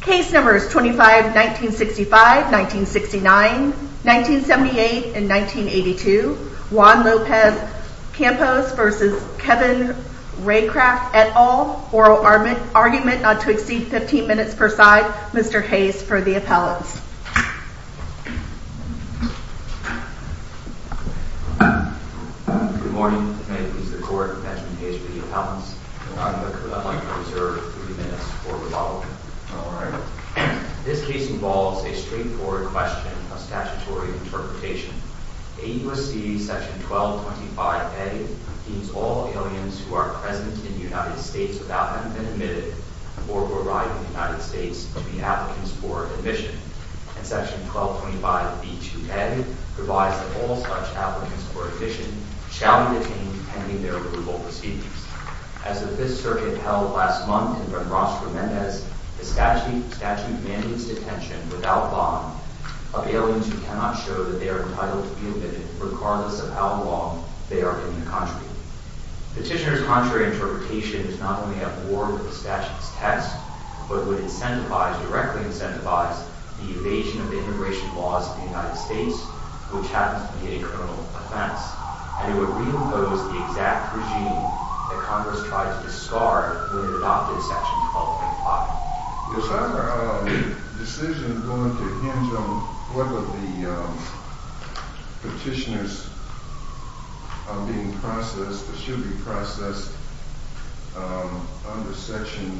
Case numbers 25-1965, 1969, 1978, and 1982, Juan Lopez-Campos v. Kevin Raycraft, et al. Oral argument not to exceed 15 minutes per side. Mr. Hayes for the appellants. Good morning, Mr. Court. Benjamin Hayes for the appellants. I would like to reserve three minutes for rebuttal. This case involves a straightforward question of statutory interpretation. AUSC Section 1225A deems all aliens who are present in the United States without having been admitted or who arrive in the United States to be applicants for admission. And Section 1225B2N provides that all such applicants for admission shall be detained pending their approval proceedings. As the Fifth Circuit held last month in Benrosco-Mendez, the statute mandates detention without bond of aliens who cannot show that they are entitled to be admitted regardless of how long they are in the country. Petitioners' contrary interpretation is not only a war with the statute's test, but would incentivize, directly incentivize, the evasion of immigration laws in the United States, which happens to be a criminal offense, and it would reimpose the exact regime that Congress tried to discard when it adopted Section 1225. Is our decision going to hinge on whether the petitioners are being processed or should be processed under Section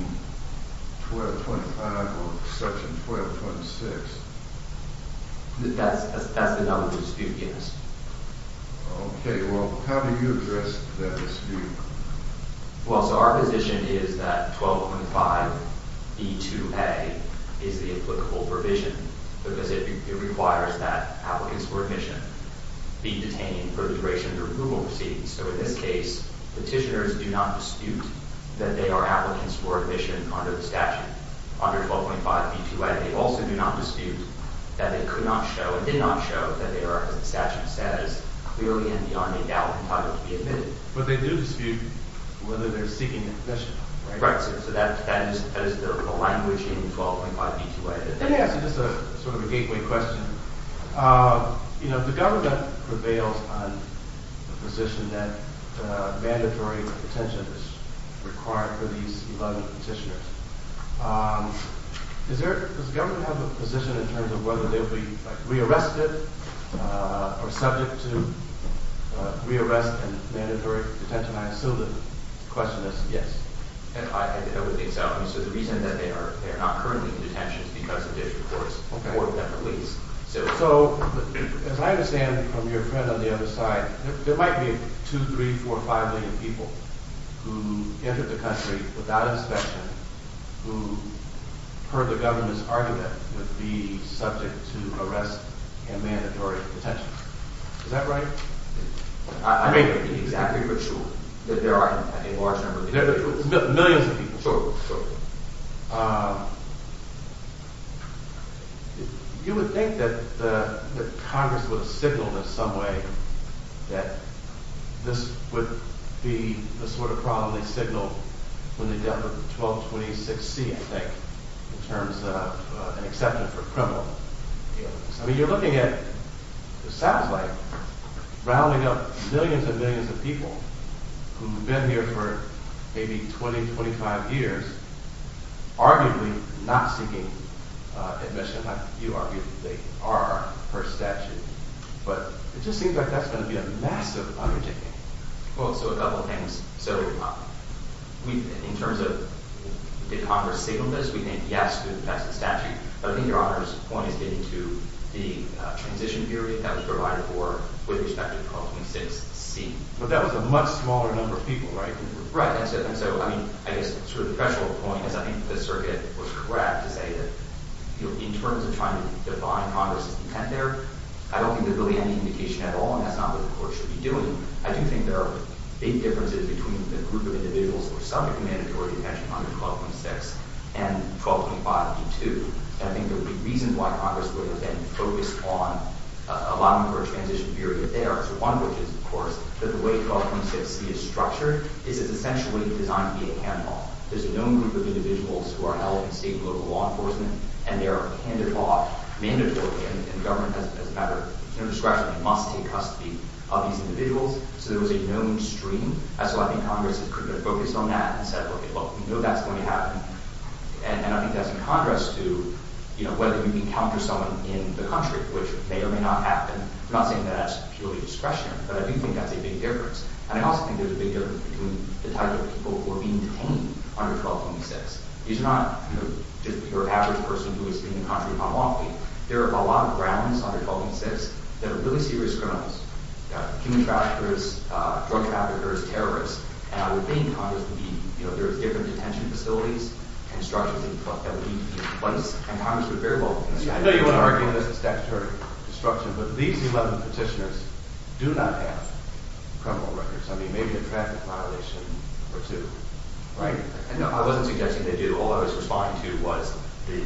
1225 or Section 1226? That's the number of the dispute, yes. Okay, well, how do you address that dispute? Well, so our position is that 1225B2A is the applicable provision because it requires that applicants for admission be detained for the duration of their approval proceedings. So in this case, petitioners do not dispute that they are applicants for admission under the statute. Under 1225B2A, they also do not dispute that they could not show, and did not show, that they are, as the statute says, clearly and beyond a doubt entitled to be admitted. But they do dispute whether they're seeking admission. Right. So that is the language involved in 1225B2A. Let me ask you just sort of a gateway question. You know, the government prevails on the position that mandatory detention is required for these 11 petitioners. Does the government have a position in terms of whether they'll be re-arrested or subject to re-arrest and mandatory detention? I assume the question is yes. I would think so. I mean, so the reason that they are not currently in detention is because of this report or that release. So as I understand from your friend on the other side, there might be two, three, four, five million people who entered the country without inspection, who, per the government's argument, would be subject to arrest and mandatory detention. Is that right? I may not be exactly sure that there are a large number of people. Millions of people. Sure, sure. You would think that Congress would signal in some way that this would be the sort of problem they signaled when they dealt with 1226C, I think, in terms of an exception for criminal. I mean, you're looking at, it sounds like, rounding up millions and millions of people who have been here for maybe 20, 25 years, arguably not seeking admission. You argue that they are per statute. But it just seems like that's going to be a massive undertaking. Well, so a couple things. So in terms of, did Congress signal this? We think yes, because that's the statute. But I think Your Honor's point is getting to the transition period that was provided for with respect to 1226C. But that was a much smaller number of people, right? Right. And so, I mean, I guess sort of the threshold point is I think the circuit was correct to say that in terms of trying to define Congress's intent there, I don't think there's really any indication at all, and that's not what the court should be doing. I do think there are big differences between the group of individuals who are subject to mandatory detention under 1226 and 1225D2. And I think there would be reasons why Congress would have been focused on allowing for a transition period there. So one of which is, of course, that the way 1226C is structured is it's essentially designed to be a handoff. There's a known group of individuals who are held in state and local law enforcement, and they are handed off mandatorily. And the government has a matter of discretion. It must take custody of these individuals. So there was a known stream. And so I think Congress could have focused on that and said, okay, well, we know that's going to happen. And I think that's in contrast to, you know, whether you encounter someone in the country, which may or may not happen. I'm not saying that that's purely discretionary, but I do think that's a big difference. And I also think there's a big difference between the type of people who are being detained under 1226. These are not, you know, just your average person who is in the country on walking. There are a lot of grounds under 1226 that are really serious criminals, human traffickers, drug traffickers, terrorists. And I would think Congress would be – you know, there's different detention facilities and structures that would be in place, and Congress would very well – I know you want to argue this is statutory construction, but these 11 petitioners do not have criminal records. I mean, maybe a traffic violation or two, right? No, I wasn't suggesting they do. All I was responding to was the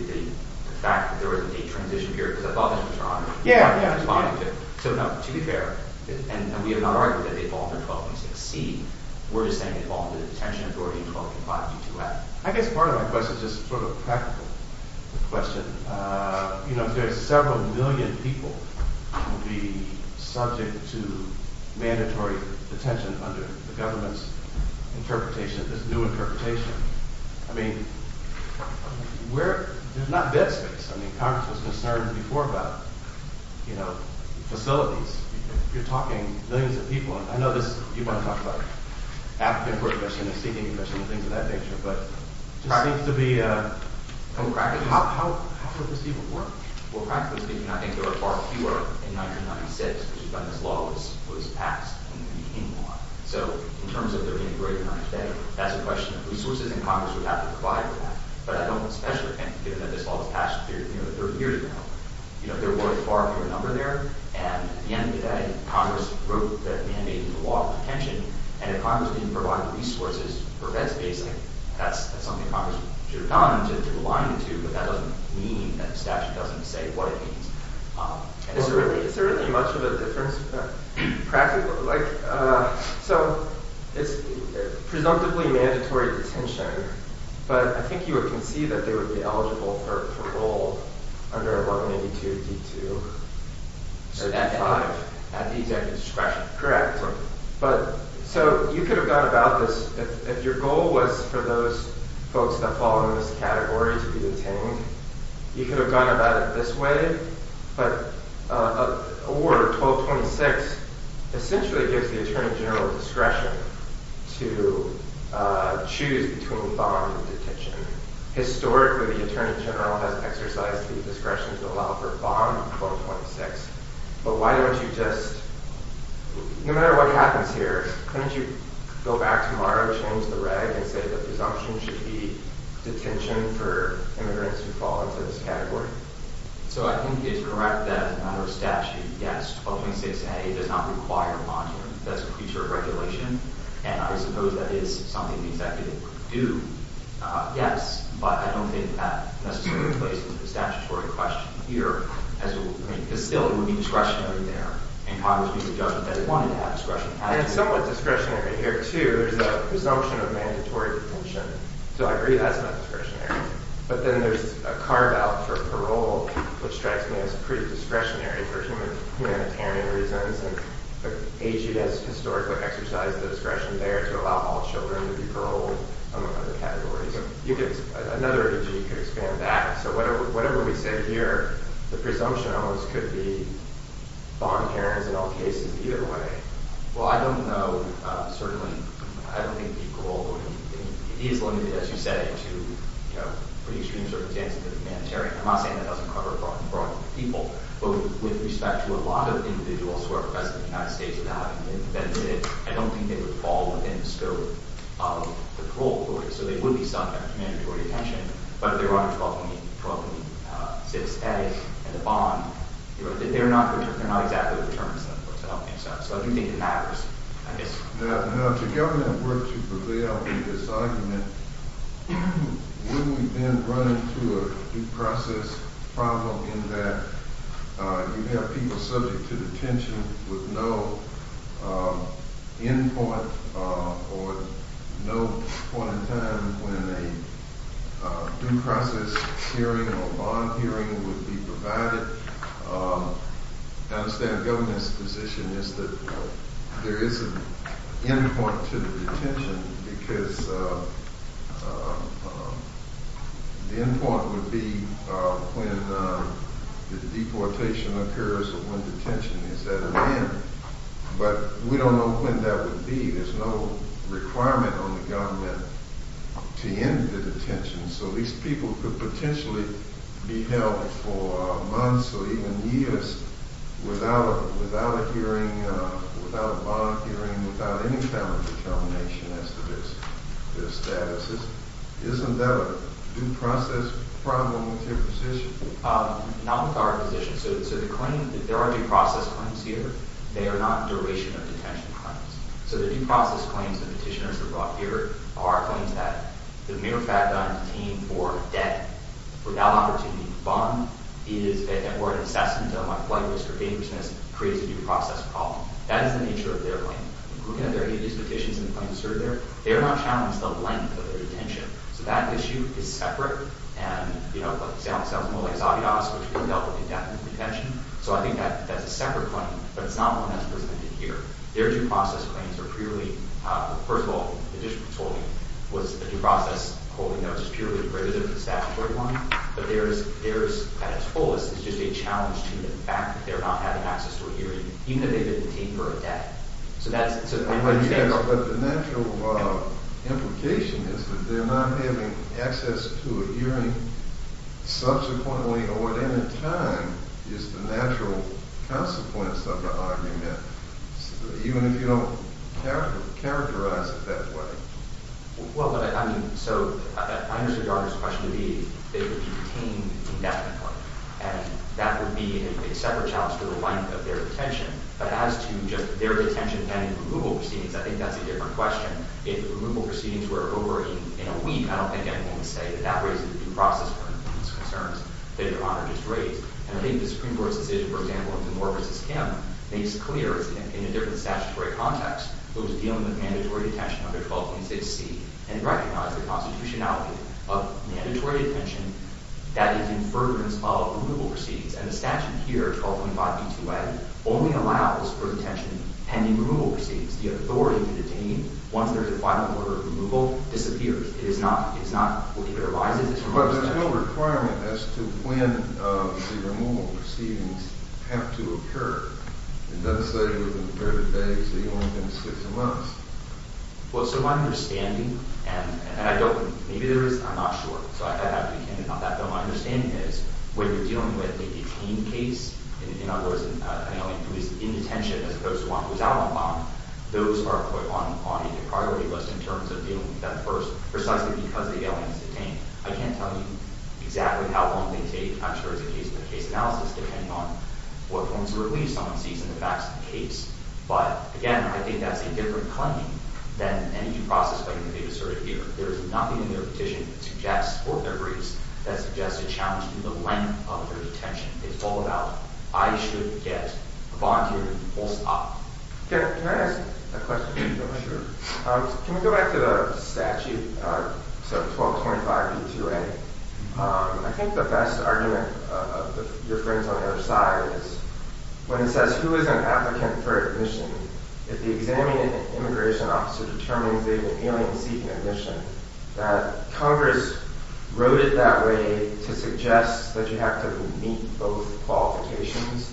fact that there was a transition period because a lot of these people are under 1226. Yeah, yeah. So, no, to be fair, and we have not argued that they fall under 1226C. We're just saying they fall under the detention authority in 1225D2F. I guess part of my question is just sort of a practical question. You know, if there are several million people who would be subject to mandatory detention under the government's interpretation, this new interpretation, I mean, where – there's not dead space. I mean, Congress was concerned before about, you know, facilities. You're talking millions of people. I know this – you want to talk about the African Court Commission, the Seeking Commission, and things of that nature, but it just seems to be – how would this even work? Well, practically speaking, I think there are far fewer in 1996, which is when this law was passed and became law. So in terms of there being a greater amount of debt, that's a question of resources, and Congress would have to provide for that. But I don't especially think, given that this law was passed, you know, 30 years ago, you know, there were a far fewer number there. And at the end of the day, Congress wrote that mandated law of detention, and if Congress didn't provide resources for bed space, like, that's something Congress should have done to align it to, but that doesn't mean that the statute doesn't say what it means. Is there really much of a difference? Practically, like – so it's presumptively mandatory detention, but I think you would concede that they would be eligible for parole under 182D2. At the exact discretion. Correct. So you could have gone about this – if your goal was for those folks that fall in this category to be detained, you could have gone about it this way, but a ward of 1226 essentially gives the attorney general discretion to choose between bond and detention. Historically, the attorney general has exercised the discretion to allow for bond in 1226, but why don't you just – no matter what happens here, why don't you go back tomorrow, change the reg, and say that presumption should be detention for immigrants who fall into this category? So I think it's correct that under statute, yes, 1226A does not require a bond here. That's a creature of regulation, and I suppose that is something the executive would do. Yes, but I don't think that necessarily plays into the statutory question here. Still, it would be discretionary there, and Congress would be the judge that wanted to have discretion. And it's somewhat discretionary here, too. There's a presumption of mandatory detention, so I agree that's not discretionary. But then there's a carve-out for parole, which strikes me as pretty discretionary for humanitarian reasons, and AG has historically exercised the discretion there to allow all children to be paroled, among other categories. Another issue you could expand back. So whatever we said here, the presumption on this could be bond parents in all cases either way. Well, I don't know. Certainly, I don't think parole would be – it is limited, as you say, to pretty extreme circumstances of the humanitarian. I'm not saying that doesn't cover a broad group of people, but with respect to a lot of individuals who are arrested in the United States without having been prevented, I don't think they would fall within the scope of the parole board. So they would be subject to mandatory detention. But if they were under 1226A and the bond, they're not exactly determined to help themselves. So I do think it matters, I guess. Now, if the government were to prevail in this argument, wouldn't we then run into a due process problem in that you have people subject to detention with no end point or no point in time when a due process hearing or bond hearing would be provided? I understand the government's position is that there is an end point to the detention because the end point would be when the deportation occurs or when detention is at an end. But we don't know when that would be. There's no requirement on the government to end the detention. So these people could potentially be held for months or even years without a bond hearing, without any kind of determination as to their status. Isn't that a due process problem with your position? Not with our position. So there are due process claims here. They are not duration of detention claims. So the due process claims the petitioners have brought here are claims that the mere fact that I'm detained for a debt without opportunity, bond, or an incest until my flight was for dangerousness creates a due process problem. That is the nature of their claim. Who can have their ages, petitions, and claims asserted there? They are not challenged the length of their detention. So that issue is separate. And, you know, it sounds more like Zadios, which could be held for indefinite detention. So I think that's a separate claim. But it's not one that's presented here. Their due process claims are purely – first of all, the district's holding was a due process holding that was just purely privileged statutory one. But theirs at its fullest is just a challenge to the fact that they're not having access to a hearing, even though they've been detained for a debt. So that's – But the natural implication is that they're not having access to a hearing. Subsequently, or at any time, is the natural consequence of the argument, even if you don't characterize it that way. Well, but I mean – so I understand Governor's question to be they would be detained indefinitely. And that would be a separate challenge to the length of their detention. But as to just their detention pending removal proceedings, I think that's a different question. If removal proceedings were over in a week, I don't think anyone would say that that raises a due process one of these concerns that Your Honor just raised. And I think the Supreme Court's decision, for example, in Moore v. Kim makes clear in a different statutory context what was dealing with mandatory detention under 12.6c and recognized the constitutionality of mandatory detention that is in fervorance of removal proceedings. And the statute here, 12.5b2a, only allows for detention pending removal proceedings. The authority to detain once there is a final order of removal disappears. It is not – it is not – it arises as removal detention. But there's no requirement as to when the removal proceedings have to occur. It doesn't say within a period of days. It only says a month. Well, so my understanding – and I don't – maybe there is. I'm not sure. So I have to be candid about that. But my understanding is when you're dealing with a detained case, in other words, an alien who is in detention as opposed to one who is out on bond, those are put on a priority list in terms of dealing with them first precisely because the alien is detained. I can't tell you exactly how long they take. I'm sure it's a case-by-case analysis depending on what forms of relief someone seeks and the facts of the case. But, again, I think that's a different claim than any due process pending review asserted here. There is nothing in their petition that suggests – or in their briefs that suggests a challenge to the length of their detention. It's all about I should get a volunteer to do the full stop. Can I ask a question? Sure. Can we go back to the statute, so 1225B2A? I think the best argument of your friends on the other side is when it says who is an applicant for admission, if the examining immigration officer determines they have an alien seeking admission, that Congress wrote it that way to suggest that you have to meet both qualifications,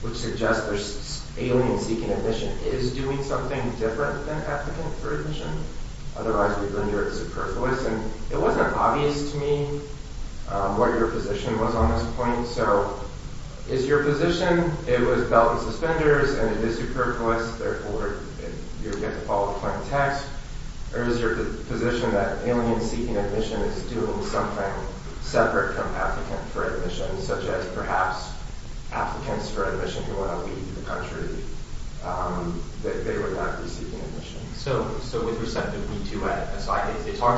which suggests there's an alien seeking admission. Is doing something different than applicant for admission? Otherwise, we'd render it superfluous. And it wasn't obvious to me what your position was on this point. So is your position it was belt and suspenders and it is superfluous, therefore, you get to follow the plain text? Or is your position that alien seeking admission is doing something separate from applicant for admission, such as perhaps applicants for admission who want to leave the country, that they would not be seeking admission? So with respect to B2A, it's hard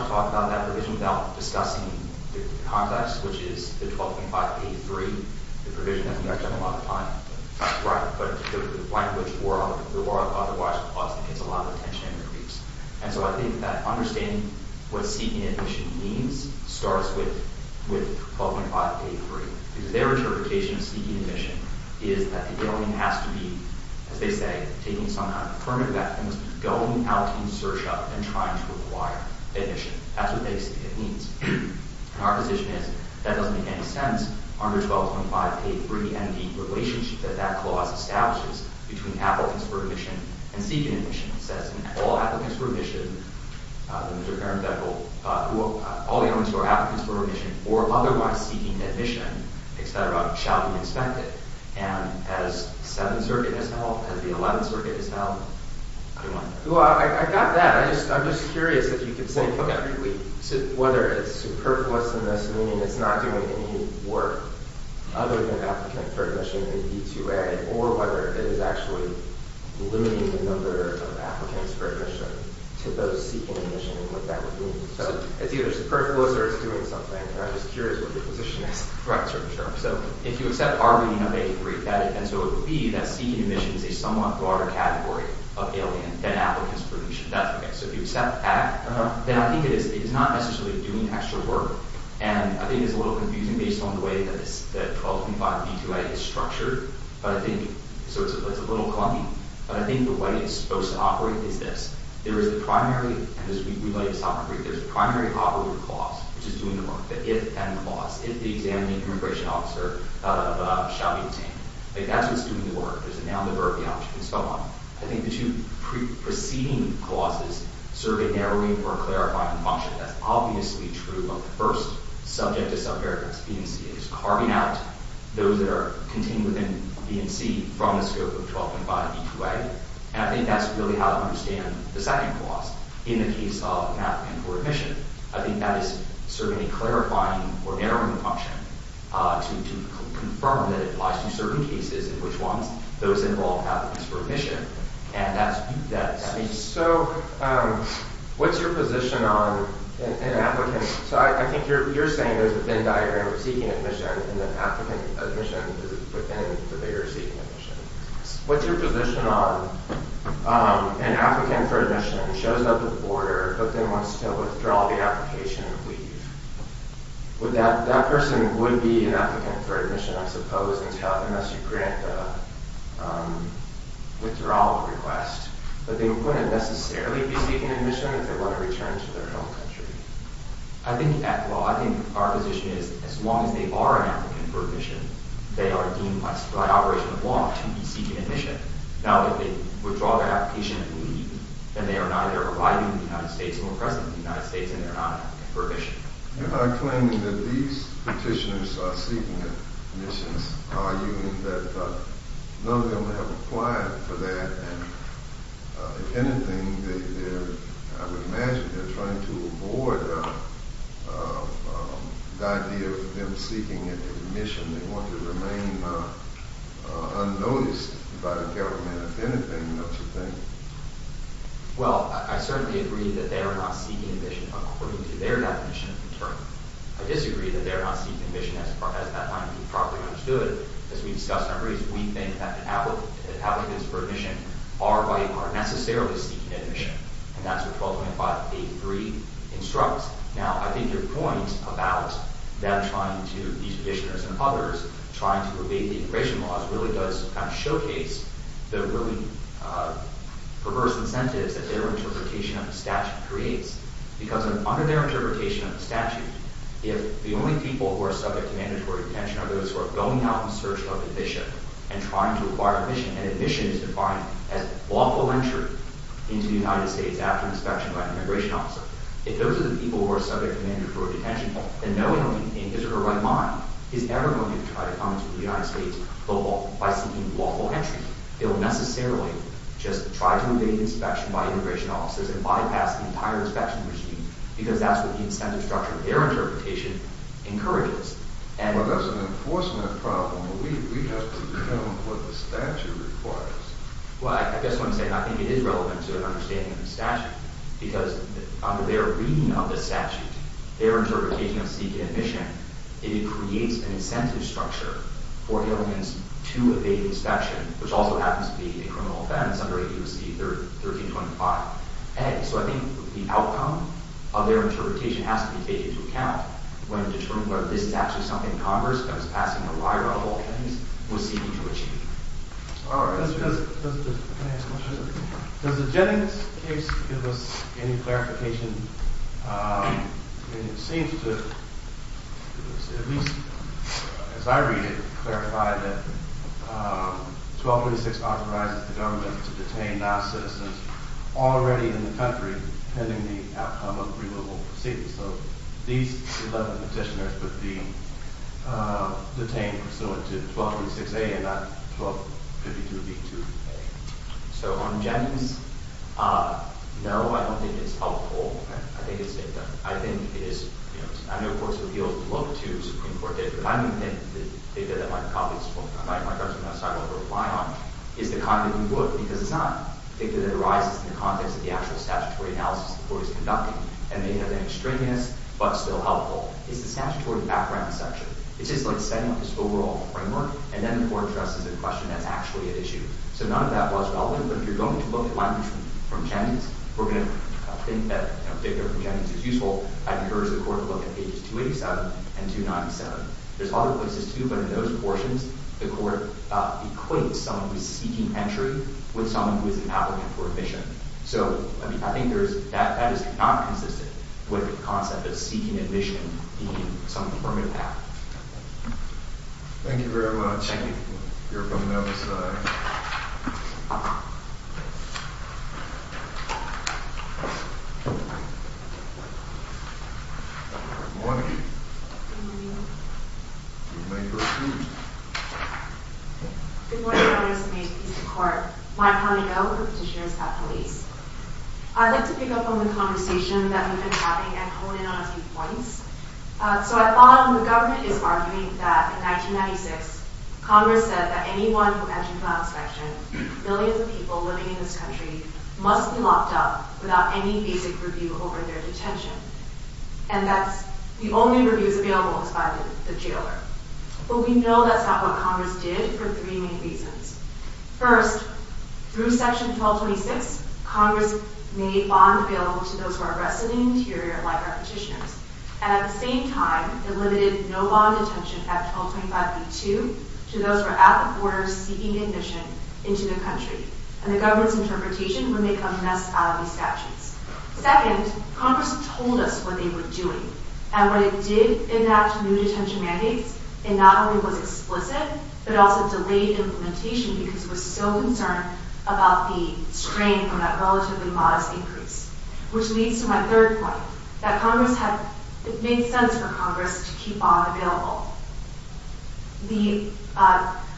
to talk about that provision without discussing the context, which is the 12.583, the provision that we actually have a lot of time to write, but the language or otherwise is a lot of attention and repeats. And so I think that understanding what seeking admission means starts with 12.583, because their interpretation of seeking admission is that the alien has to be, as they say, taking some kind of permanent vaccine, going out in search of and trying to acquire admission. That's what basically it means. And our position is that doesn't make any sense under 12.583, and the relationship that that clause establishes between applicants for admission and seeking admission. It says all applicants for admission, all aliens who are applicants for admission or otherwise seeking admission, etc., shall be inspected, and as 7th Circuit has held, as the 11th Circuit has held, I wonder. I got that. I'm just curious if you could say whether it's superfluous in this, meaning it's not doing any work other than applicant for admission in B2A, or whether it is actually limiting the number of applicants for admission to those seeking admission and what that would mean. So it's either superfluous or it's doing something, and I'm just curious what your position is. So if you accept our reading of A3, and so it would be that seeking admission is a somewhat broader category of alien than applicants for admission. So if you accept that, then I think it is not necessarily doing extra work, and I think it's a little confusing based on the way that 12.5 B2A is structured. So it's a little clunky, but I think the way it's supposed to operate is this. There is a primary, and as we relate to sovereign brief, there is a primary operative clause, which is doing the work, the if-then clause, if the examining immigration officer shall be detained. That's what's doing the work. There's a noun, the verb, the object, and so on. I think the two preceding clauses serve a narrowing or clarifying function. That's obviously true of the first subject to self-verification, B and C. It is carving out those that are contained within B and C from the scope of 12.5 B2A, and I think that's really how to understand the second clause in the case of an applicant for admission. I think that is serving a clarifying or narrowing function to confirm that it applies to certain cases, in which ones those involve applicants for admission, and that's... So what's your position on an applicant? So I think you're saying there's a thin diagram of seeking admission, and that applicant admission is within the bigger seeking admission. What's your position on an applicant for admission who shows up at the border, but then wants to withdraw the application and leave? That person would be an applicant for admission, I suppose, unless you grant the withdrawal request, but they wouldn't necessarily be seeking admission if they want to return to their home country. I think our position is, as long as they are an applicant for admission, they are deemed by operation of law to be seeking admission. Now, if they withdraw their application and leave, then they are neither arriving in the United States nor present in the United States, and they're not an applicant for admission. You're not claiming that these petitioners are seeking admissions. Are you in that none of them have applied for that, and if anything, I would imagine they're trying to avoid the idea of them seeking admission. They want to remain unnoticed by the government. If anything, that's the thing. Well, I certainly agree that they are not seeking admission according to their definition of return. I disagree that they are not seeking admission as that might be properly understood. As we discussed in our briefs, we think that the applicants for admission are necessarily seeking admission, and that's what 12.583 instructs. Now, I think your point about them trying to, these petitioners and others, trying to evade the immigration laws really does kind of showcase the really perverse incentives that their interpretation of the statute creates. Because under their interpretation of the statute, if the only people who are subject to mandatory detention are those who are going out in search of admission and trying to acquire admission, and admission is defined as lawful entry into the United States after inspection by an immigration officer, if those are the people who are subject to mandatory detention, then no one in his or her right mind is ever going to try to come into the United States by seeking lawful entry. They'll necessarily just try to evade inspection by immigration officers and bypass the entire inspection regime, because that's what the incentive structure of their interpretation encourages. Well, that's an enforcement problem. We have to come with what the statute requires. Well, I just want to say, and I think it is relevant to an understanding of the statute, because under their reading of the statute, their interpretation of seeking admission, it creates an incentive structure for aliens to evade inspection, which also happens to be a criminal offense under H.U.C. 1325a. So I think the outcome of their interpretation has to be taken into account when determining whether this statute is something Congress, that was passing a lie roll of all things, was seeking to achieve. Can I ask a question? Does the Jennings case give us any clarification? It seems to, at least as I read it, clarify that 1236 authorizes the government to detain non-citizens already in the country pending the outcome of the removal proceedings. So these 11 petitioners would be detained pursuant to 1236a and not 1252b-2a. So on Jennings, no, I don't think it's helpful. I think it's, I think it is, you know, I know courts would be able to look to Supreme Court data, but I don't think the data that my colleagues, my colleagues on that side will reply on is the kind that we would, because it's not data that arises in the context of the actual statutory analysis the court is conducting and may have been extraneous but still helpful. It's the statutory background section. It's just like setting up this overall framework and then the court addresses a question that's actually at issue. So none of that was relevant, but if you're going to look at language from Jennings, we're going to think that a particular from Jennings is useful. I'd encourage the court to look at pages 287 and 297. There's other places too, but in those portions, the court equates someone who's seeking entry with someone who is an applicant for admission. So I think there's, that is not consistent with the concept of seeking admission being some affirmative path. Thank you very much. Thank you. You're welcome. Now this side. Good morning. Good morning. You may proceed. Good morning, Your Honours. May it please the Court. My name is Holly Doe. I'm a petitioner at the police. I'd like to pick up on the conversation that we've been having and hone in on a few points. So I thought when the government is arguing that in 1996, Congress said that anyone from entry plan inspection, millions of people living in this country, must be locked up without any basic review over their detention. And that the only review that's available is by the jailer. But we know that's not what Congress did for three main reasons. First, through Section 1226, Congress made bond available to those who are arrested in the interior, like our petitioners. And at the same time, it limited no bond detention at 1225b2 to those who are at the border seeking admission into the country. And the government's interpretation would make a mess out of these statutes. Second, Congress told us what they were doing. And when it did enact new detention mandates, it not only was explicit, but it also delayed implementation because it was so concerned about the strain from that relatively modest increase. Which leads to my third point, that it made sense for Congress to keep bond available. The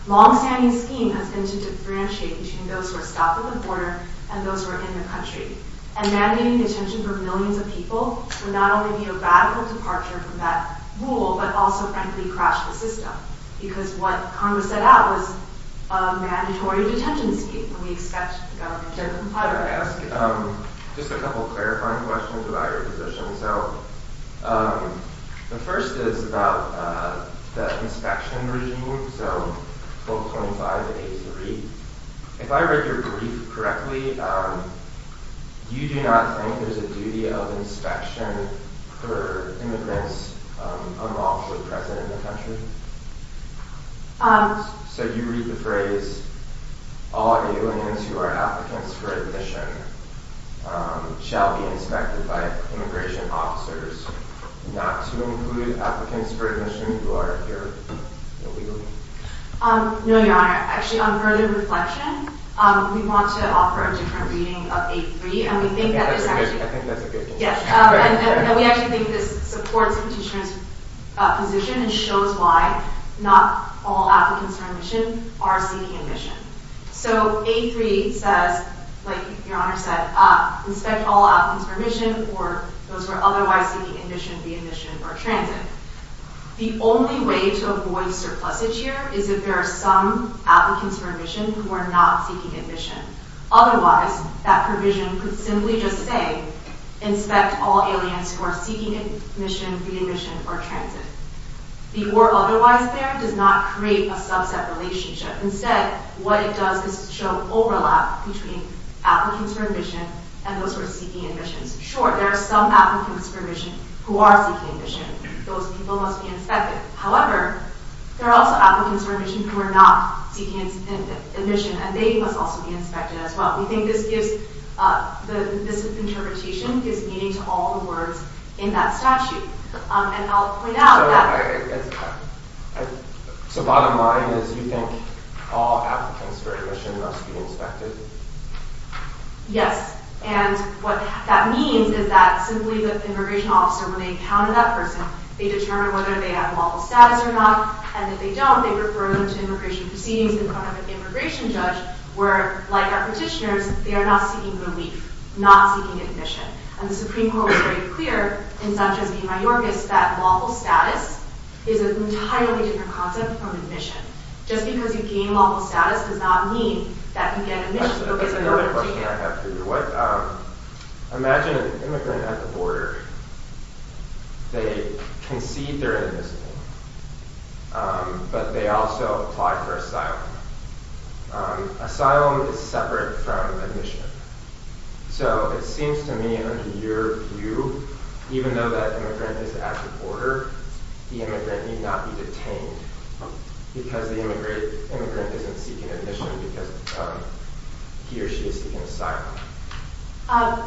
long-standing scheme has been to differentiate between those who are stopped at the border and those who are in the country. And mandating detention for millions of people would not only be a radical departure from that rule, but also, frankly, crash the system. Because what Congress set out was a mandatory detention scheme. And we expect the government to comply with that. I want to ask just a couple of clarifying questions about your position. So, the first is about the inspection regime, so 1225 and 83. If I read your brief correctly, you do not think there's a duty of inspection for immigrants unlawfully present in the country? So you read the phrase, all immigrants who are applicants for admission shall be inspected by immigration officers, not to include applicants for admission who are here illegally? No, Your Honor. Actually, on further reflection, we want to offer a different reading of 83. I think that's a good conclusion. Yes. And we actually think this supports the petitioner's position and shows why not all applicants for admission are seeking admission. So, 83 says, like Your Honor said, inspect all applicants for admission or those who are otherwise seeking admission, re-admission, or transit. The only way to avoid surplusage here is if there are some applicants for admission who are not seeking admission. Otherwise, that provision could simply just say inspect all aliens who are seeking admission, re-admission, or transit. The or otherwise there does not create a subset relationship. Instead, what it does is show overlap between applicants for admission and those who are seeking admission. Sure, there are some applicants for admission who are seeking admission. Those people must be inspected. However, there are also applicants for admission who are not seeking admission, and they must also be inspected as well. We think this gives... this interpretation gives meaning to all the words in that statute. And I'll point out that... So, bottom line is you think all applicants for admission must be inspected? Yes. And what that means is that simply the immigration officer, when they encounter that person, they determine whether they have moral status or not, and if they don't, they refer them to immigration proceedings in front of an immigration judge, where, like our petitioners, they are not seeking relief, not seeking admission. And the Supreme Court was very clear, in Sanchez v. Mayorkas, that lawful status is an entirely different concept from admission. Just because you gain lawful status does not mean that you get admission. That's another question I have for you. Imagine an immigrant at the border. They concede their inadmissibility, but they also apply for asylum. Asylum is separate from admission. So, it seems to me, under your view, even though that immigrant is at the border, the immigrant need not be detained because the immigrant isn't seeking admission because he or she is seeking asylum.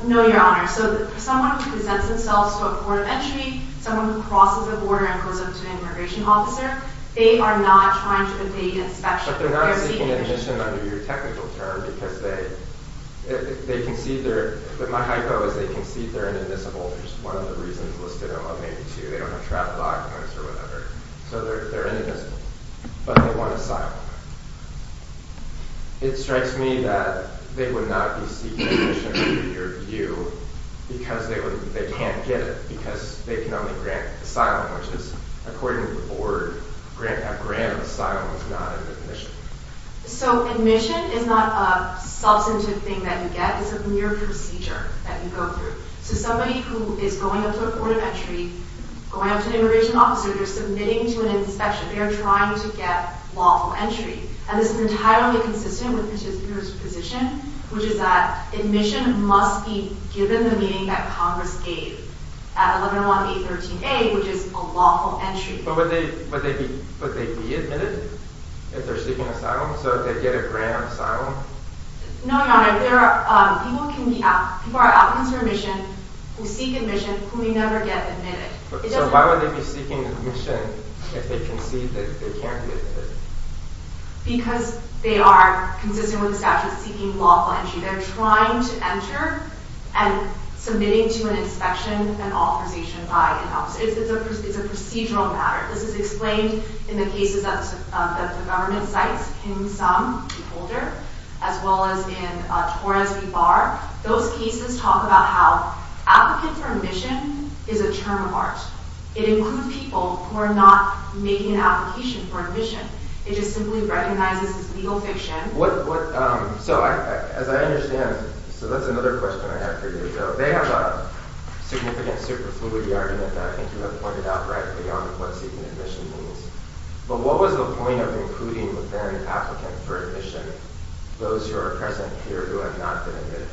No, Your Honor. So, someone who presents themselves to a court of entry, someone who crosses the border and goes up to an immigration officer, they are not trying to obtain inspection. But they're not seeking admission under your technical term because they concede their... My hypo is they concede they're inadmissible, which is one of the reasons listed in 182. They don't have travel documents or whatever. So, they're inadmissible. But they want asylum. It strikes me that they would not be seeking admission under your view because they can't get it because they can only grant asylum, which is, according to the board, grant asylum is not an admission. So, admission is not a substantive thing that you get. It's a mere procedure that you go through. So, somebody who is going up to a court of entry, going up to an immigration officer, they're submitting to an inspection. They are trying to get lawful entry. And this is entirely consistent with Petitioner's position, which is that admission must be given the meaning that Congress gave at 1101B13A, which is a lawful entry. But would they be admitted if they're seeking asylum? So, if they get a grant of asylum? No, Your Honor. People can be out... People are out for admission who seek admission who never get admitted. So, why would they be seeking admission if they concede that they can't be admitted? Because they are, consistent with the statute, seeking lawful entry. They're trying to enter and submitting to an inspection and authorization by an officer. It's a procedural matter. This is explained in the cases that the government cites. Kim Sung, the holder, as well as in Torres v. Barr. Those cases talk about how applicant for admission is a term of art. It includes people who are not making an application for admission. It just simply recognizes it's legal fiction. So, as I understand... So, that's another question I had for you. They have a significant superfluity argument and I think you have pointed out right beyond what seeking admission means. But what was the point of including, then, applicant for admission, those who are present here who have not been admitted?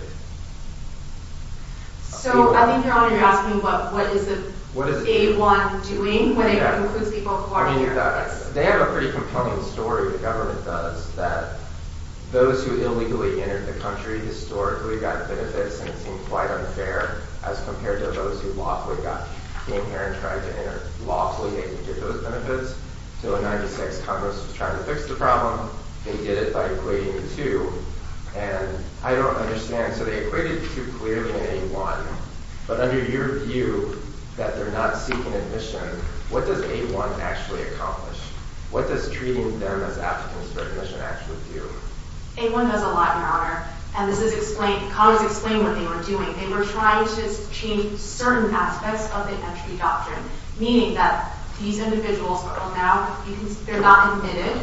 So, I think, Your Honor, you're asking what is the K-1 doing when it includes people who are here? They have a pretty compelling story, the government does, that those who illegally entered the country historically got benefits and it seemed quite unfair as compared to those who lawfully came here and tried to enter. Lawfully, they didn't get those benefits. So, in 1996, Congress was trying to fix the problem. They did it by equating the two. And I don't understand. So, they equated the two clearly in A-1. But under your view, that they're not seeking admission, what does A-1 actually accomplish? What does treating them as applicants for admission actually do? A-1 does a lot, Your Honor. And this is explained... Congress explained what they were doing. They were trying to change certain aspects of the entry doctrine, meaning that these individuals are now... they're not admitted,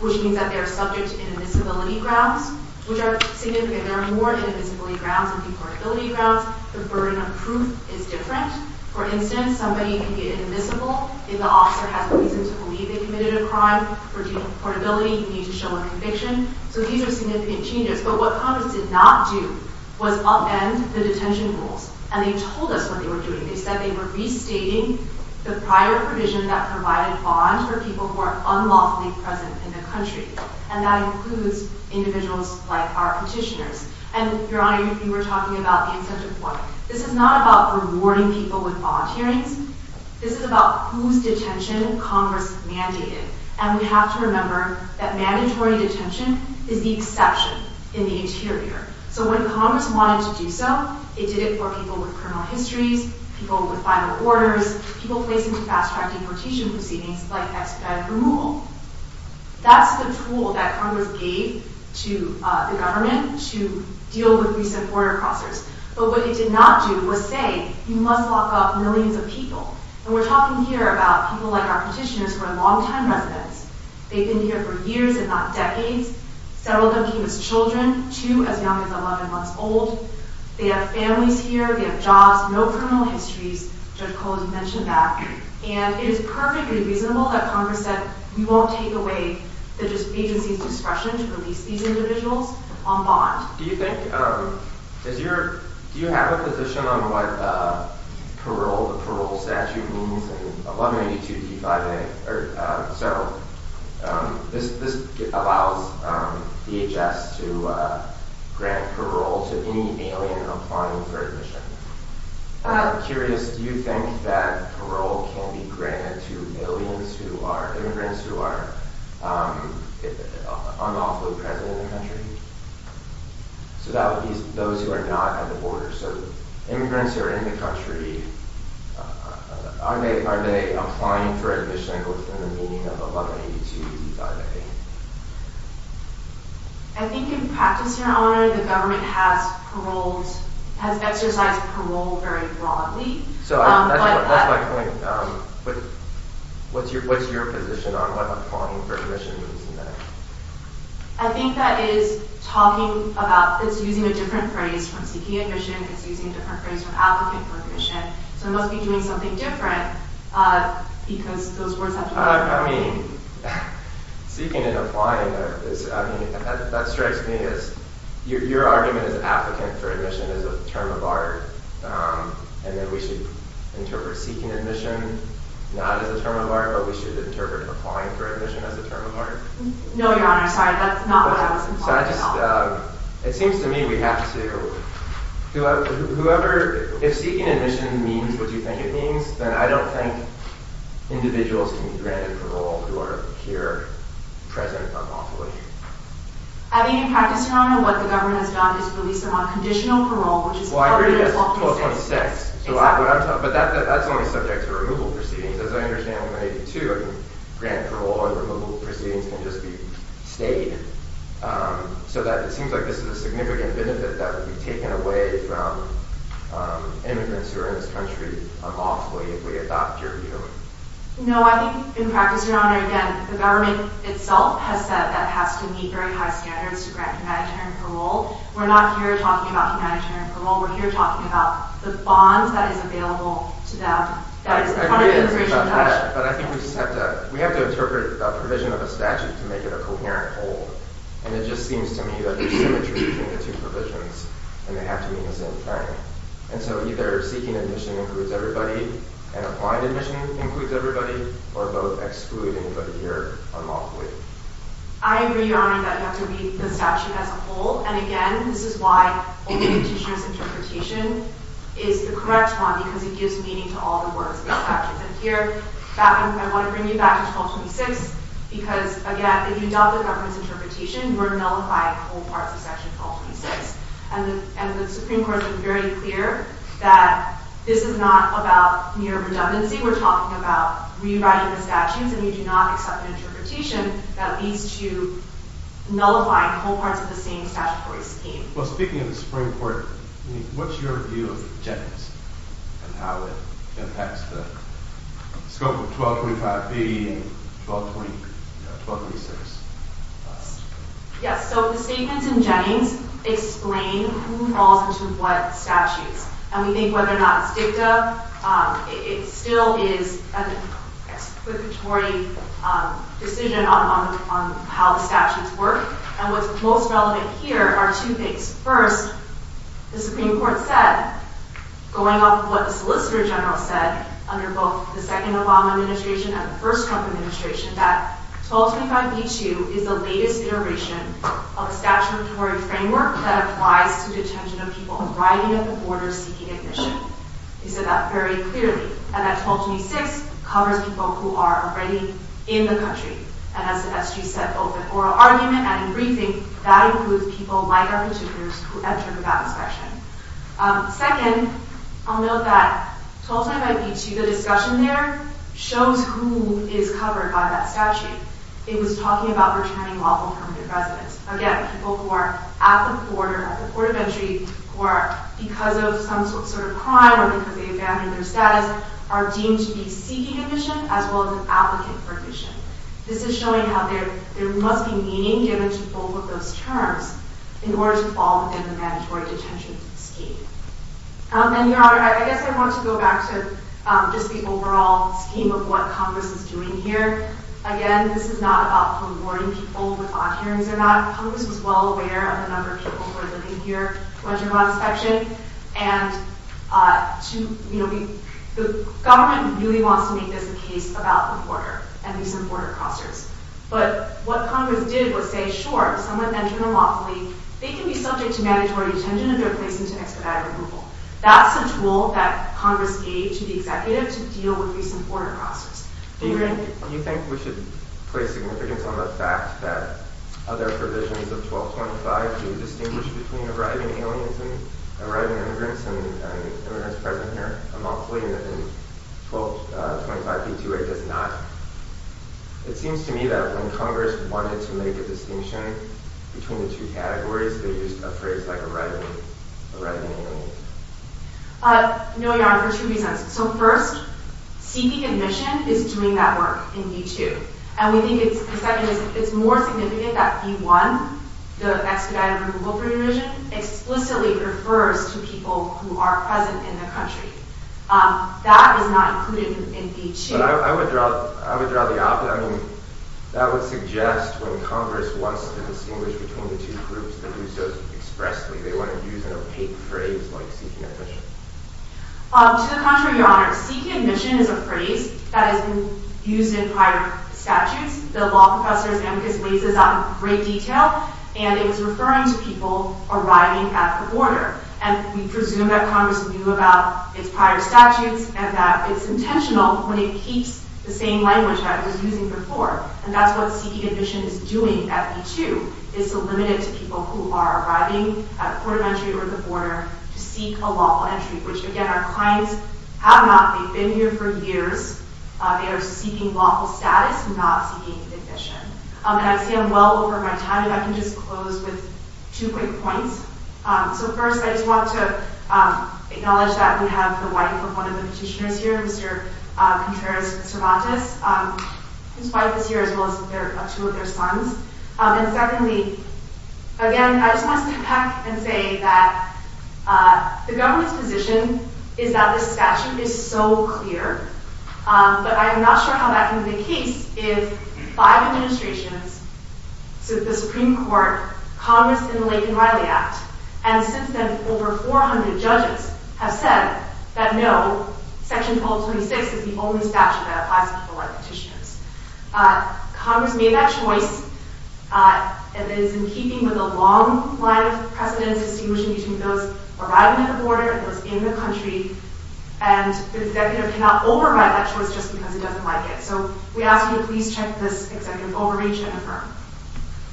which means that they are subject to inadmissibility grounds, which are significant. There are more inadmissibility grounds than deportability grounds. The burden of proof is different. For instance, somebody can get inadmissible if the officer has a reason to believe they committed a crime. For deportability, you need to show a conviction. So, these are significant changes. But what Congress did not do was upend the detention rules. And they told us what they were doing. They said they were restating the prior provision that provided bonds for people who are unlawfully present in the country. And that includes individuals like our petitioners. And, Your Honor, you were talking about the incentive point. This is not about rewarding people with bond hearings. This is about whose detention Congress mandated. And we have to remember that mandatory detention is the exception in the interior. So when Congress wanted to do so, it did it for people with criminal histories, people with final orders, people facing fast-track deportation proceedings like expedited removal. That's the tool that Congress gave to the government to deal with recent border crossers. But what it did not do was say, you must lock up millions of people. And we're talking here about people like our petitioners who are long-time residents. They've been here for years and not decades. Several of them came as children. Two as young as 11 months old. They have families here. They have jobs. No criminal histories. Judge Kohl has mentioned that. And it is perfectly reasonable that Congress said, we won't take away the agency's discretion to release these individuals on bond. Do you have a position on what the parole statute means? This allows DHS to grant parole to any alien applying for admission. I'm curious. Do you think that parole can be granted to immigrants who are unlawfully present in the country? So that would be those who are not at the border. So immigrants who are in the country, are they applying for admission within the meaning of a bond agency? I think in practice, Your Honor, the government has exercised parole very broadly. So that's my point. What's your position on what applying for admission means in that? I think that is talking about, it's using a different phrase from seeking admission. It's using a different phrase from applicant for admission. So it must be doing something different, because those words have different meaning. I mean, seeking and applying, that strikes me as, your argument is applicant for admission is a term of art, and that we should interpret seeking admission not as a term of art, but we should interpret applying for admission as a term of art. No, Your Honor, sorry. That's not what I was implying at all. So I just, it seems to me we have to, whoever, if seeking admission means what you think it means, then I don't think individuals can be granted parole who are here present unlawfully. I mean, in practice, Your Honor, what the government has done is release them on conditional parole, which is covered in 1226. But that's only subject to removal proceedings. As I understand, in 182, grant parole and removal proceedings can just be stayed, so that it seems like this is a significant benefit that would be taken away from immigrants who are in this country unlawfully if we adopt your view. No, I think, in practice, Your Honor, again, the government itself has said that it has to meet very high standards to grant humanitarian parole. We're not here talking about humanitarian parole. We're here talking about the bonds that is available to them. But I think we just have to, we have to interpret a provision of a statute to make it a coherent whole. And it just seems to me that there's symmetry between the two provisions, and they have to meet in the same frame. And so either seeking admission includes everybody, and applying admission includes everybody, or both exclude anybody here unlawfully. I agree, Your Honor, that you have to read the statute as a whole, and again, this is why only the teacher's interpretation is the correct one, because it gives meaning to all the words in the statute. And here, I want to bring you back to 1226, because, again, if you doubt the government's interpretation, you are nullifying whole parts of Section 1226. And the Supreme Court was very clear that this is not about mere redundancy. We're talking about rewriting the statutes, and you do not accept an interpretation that leads to nullifying whole parts of the same statutory scheme. Well, speaking of the Supreme Court, what's your view of Jennings and how it impacts the scope of 1225B and 1226? Yes, so the statements in Jennings explain who falls into what statutes. And we think whether or not it's dicta, it still is an explicatory decision on how the statutes work. And what's most relevant here are two things. First, the Supreme Court said, going off of what the Solicitor General said, under both the second Obama administration and the first Trump administration, that 1225B2 is the latest iteration of a statutory framework that applies to detention of people arriving at the border seeking admission. He said that very clearly. And that 1226 covers people who are already in the country. And as the SG said, both in oral argument and in briefing, that includes people like our contributors who entered without inspection. Second, I'll note that 1225B2, the discussion there, shows who is covered by that statute. It was talking about returning lawful permanent residence. Again, people who are at the border, at the port of entry, who are because of some sort of crime or because they abandoned their status, are deemed to be seeking admission as well as an applicant for admission. This is showing how there must be meaning given to both of those terms in order to fall within the mandatory detention scheme. And, Your Honor, I guess I want to go back to just the overall scheme of what Congress is doing here. Again, this is not about forewarning people with odd hearings or not. Congress was well aware of the number of people who are living here without inspection. The government really wants to make this a case about the border and recent border crossers. But what Congress did was say, sure, someone entered unlawfully, they can be subject to mandatory detention if they're placed into expedited removal. That's a tool that Congress gave to the executive to deal with recent border crossers. Do you think we should place significance on the fact that other provisions of 1225B2 do distinguish between arriving aliens and arriving immigrants, and immigrants present here a month later than 1225B2A does not? It seems to me that when Congress wanted to make a distinction between the two categories, they used a phrase like arriving aliens. No, Your Honor, for two reasons. So first, seeking admission is doing that work in B2. And we think it's more significant that B1, the expedited removal provision, explicitly refers to people who are present in the country. That is not included in B2. But I would draw the opposite. I mean, that would suggest when Congress wants to distinguish between the two groups that do so expressly, they want to use an opaque phrase like seeking admission. To the contrary, Your Honor. Seeking admission is a phrase that has been used in prior statutes. The law professor's amicus lays this out in great detail. And it was referring to people arriving at the border. And we presume that Congress knew about its prior statutes and that it's intentional when it keeps the same language that it was using before. And that's what seeking admission is doing at B2, is to limit it to people who are arriving at the border to seek a lawful entry, which, again, our clients have not. They've been here for years. They are seeking lawful status, not seeking admission. And I see I'm well over my time, if I can just close with two quick points. So first, I just want to acknowledge that we have the wife of one of the petitioners here, Mr. Contreras-Cervantes, whose wife is here, as well as two of their sons. And secondly, again, I just want to unpack and say that the government's position is that this statute is so clear, but I am not sure how that can be the case if five administrations, the Supreme Court, Congress, and the Lincoln-Riley Act, and since then, over 400 judges have said that no, Section 1226 is the only statute that applies to people like petitioners. Congress made that choice, and it is in keeping with a long line of precedence distinguishing between those arriving at the border, those in the country, and the executive cannot override that choice just because he doesn't like it. So we ask you to please check this executive overreach and affirm.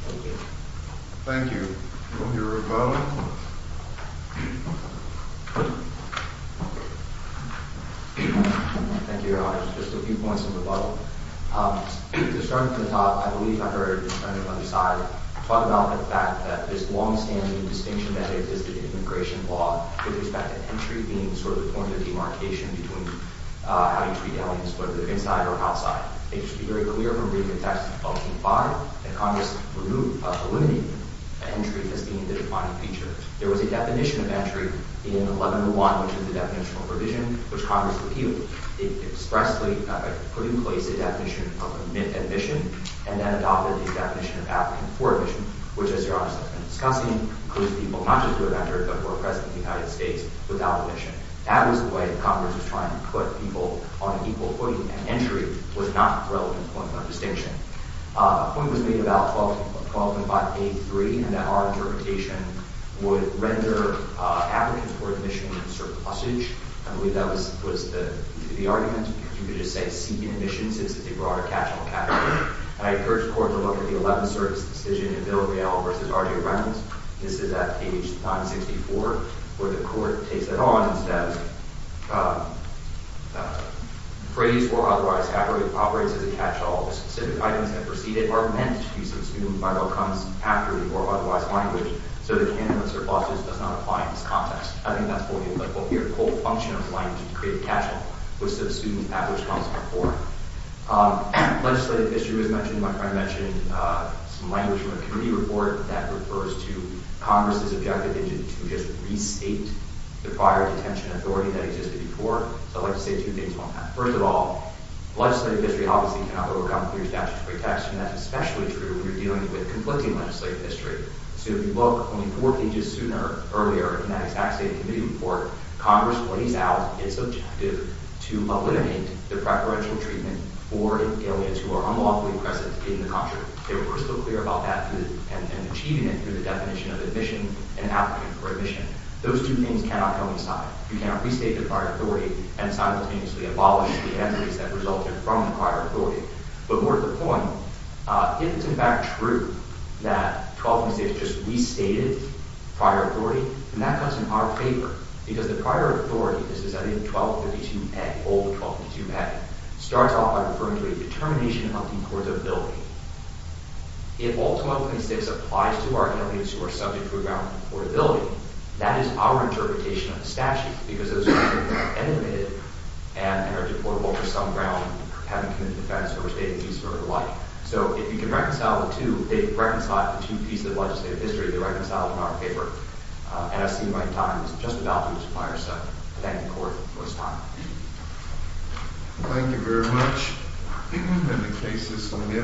Thank you. Thank you. We'll hear a vote. Thank you, Your Honor. Just a few points of rebuttal. To start at the top, I believe I heard Representative Underside talk about the fact that this long-standing distinction that existed in immigration law with respect to entry being sort of the point of demarcation between how you treat aliens, whether they're inside or outside. It should be very clear from reading the text of 1225 that Congress removed, eliminated entry as being the defining feature. There was a definition of entry in 1101, which is the definitional provision, which Congress repealed. It expressly put in place a definition of admission, and then adopted a definition of applicant for admission, which, as Your Honor has been discussing, includes people not just who have entered, but who are present in the United States without admission. That was the way that Congress was trying to put people on an equal footing, and entry was not a relevant point of distinction. A point was made about 12853, and that our interpretation would render applicants for admission in a certain usage. I believe that was the argument. You could just say seeking admission, since it's a broader catch-all category. And I encourage the court to look at the Eleventh Circuit's decision in Biddledale v. R. J. Reynolds. This is at page 964, where the court takes it on, instead of phrased or otherwise accurately operates as a catch-all. Specific items that preceded are meant to be consumed by outcomes accurately or otherwise blindly, so the candidates or bosses does not apply in this context. I think that's fully applicable here. The whole function of applying is to create a catch-all, which the students have the responsibility for. Legislative history was mentioned, and my friend mentioned some language from a committee report that refers to Congress's objective to just restate the prior detention authority that existed before. So I'd like to say two things on that. First of all, legislative history obviously cannot overcome clear statutes of protection. That's especially true when you're dealing with conflicting legislative history. So if you look only four pages sooner or earlier in that exact state committee report, Congress lays out its objective to eliminate the preferential treatment for aliens who are unlawfully present in the country. They were crystal clear about that and achieving it through the definition of admission and applicant for admission. Those two things cannot coincide. You cannot restate the prior authority and simultaneously abolish the entities that resulted from the prior authority. But more to the point, if it's in fact true that 12th and 16th just restated prior authority, then that comes in our favor, because the prior 1222 Act, old 1222 Act, starts off by referring to a determination of deportability. If all 1226 applies to our aliens who are subject to a ground of deportability, that is our interpretation of the statute, because those aliens have been eliminated and are deportable for some ground, having committed offense, or restated peace, or the like. So if you can reconcile the two, reconcile the two pieces of legislative history, they're reconciled in our favor. And I see my time is just about up on this fireside. Thank you, Court. We'll stop. Thank you very much. And the case is submitted.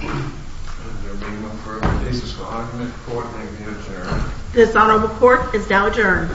There will be no further cases for argument. Court may be adjourned. This honorable court is now adjourned.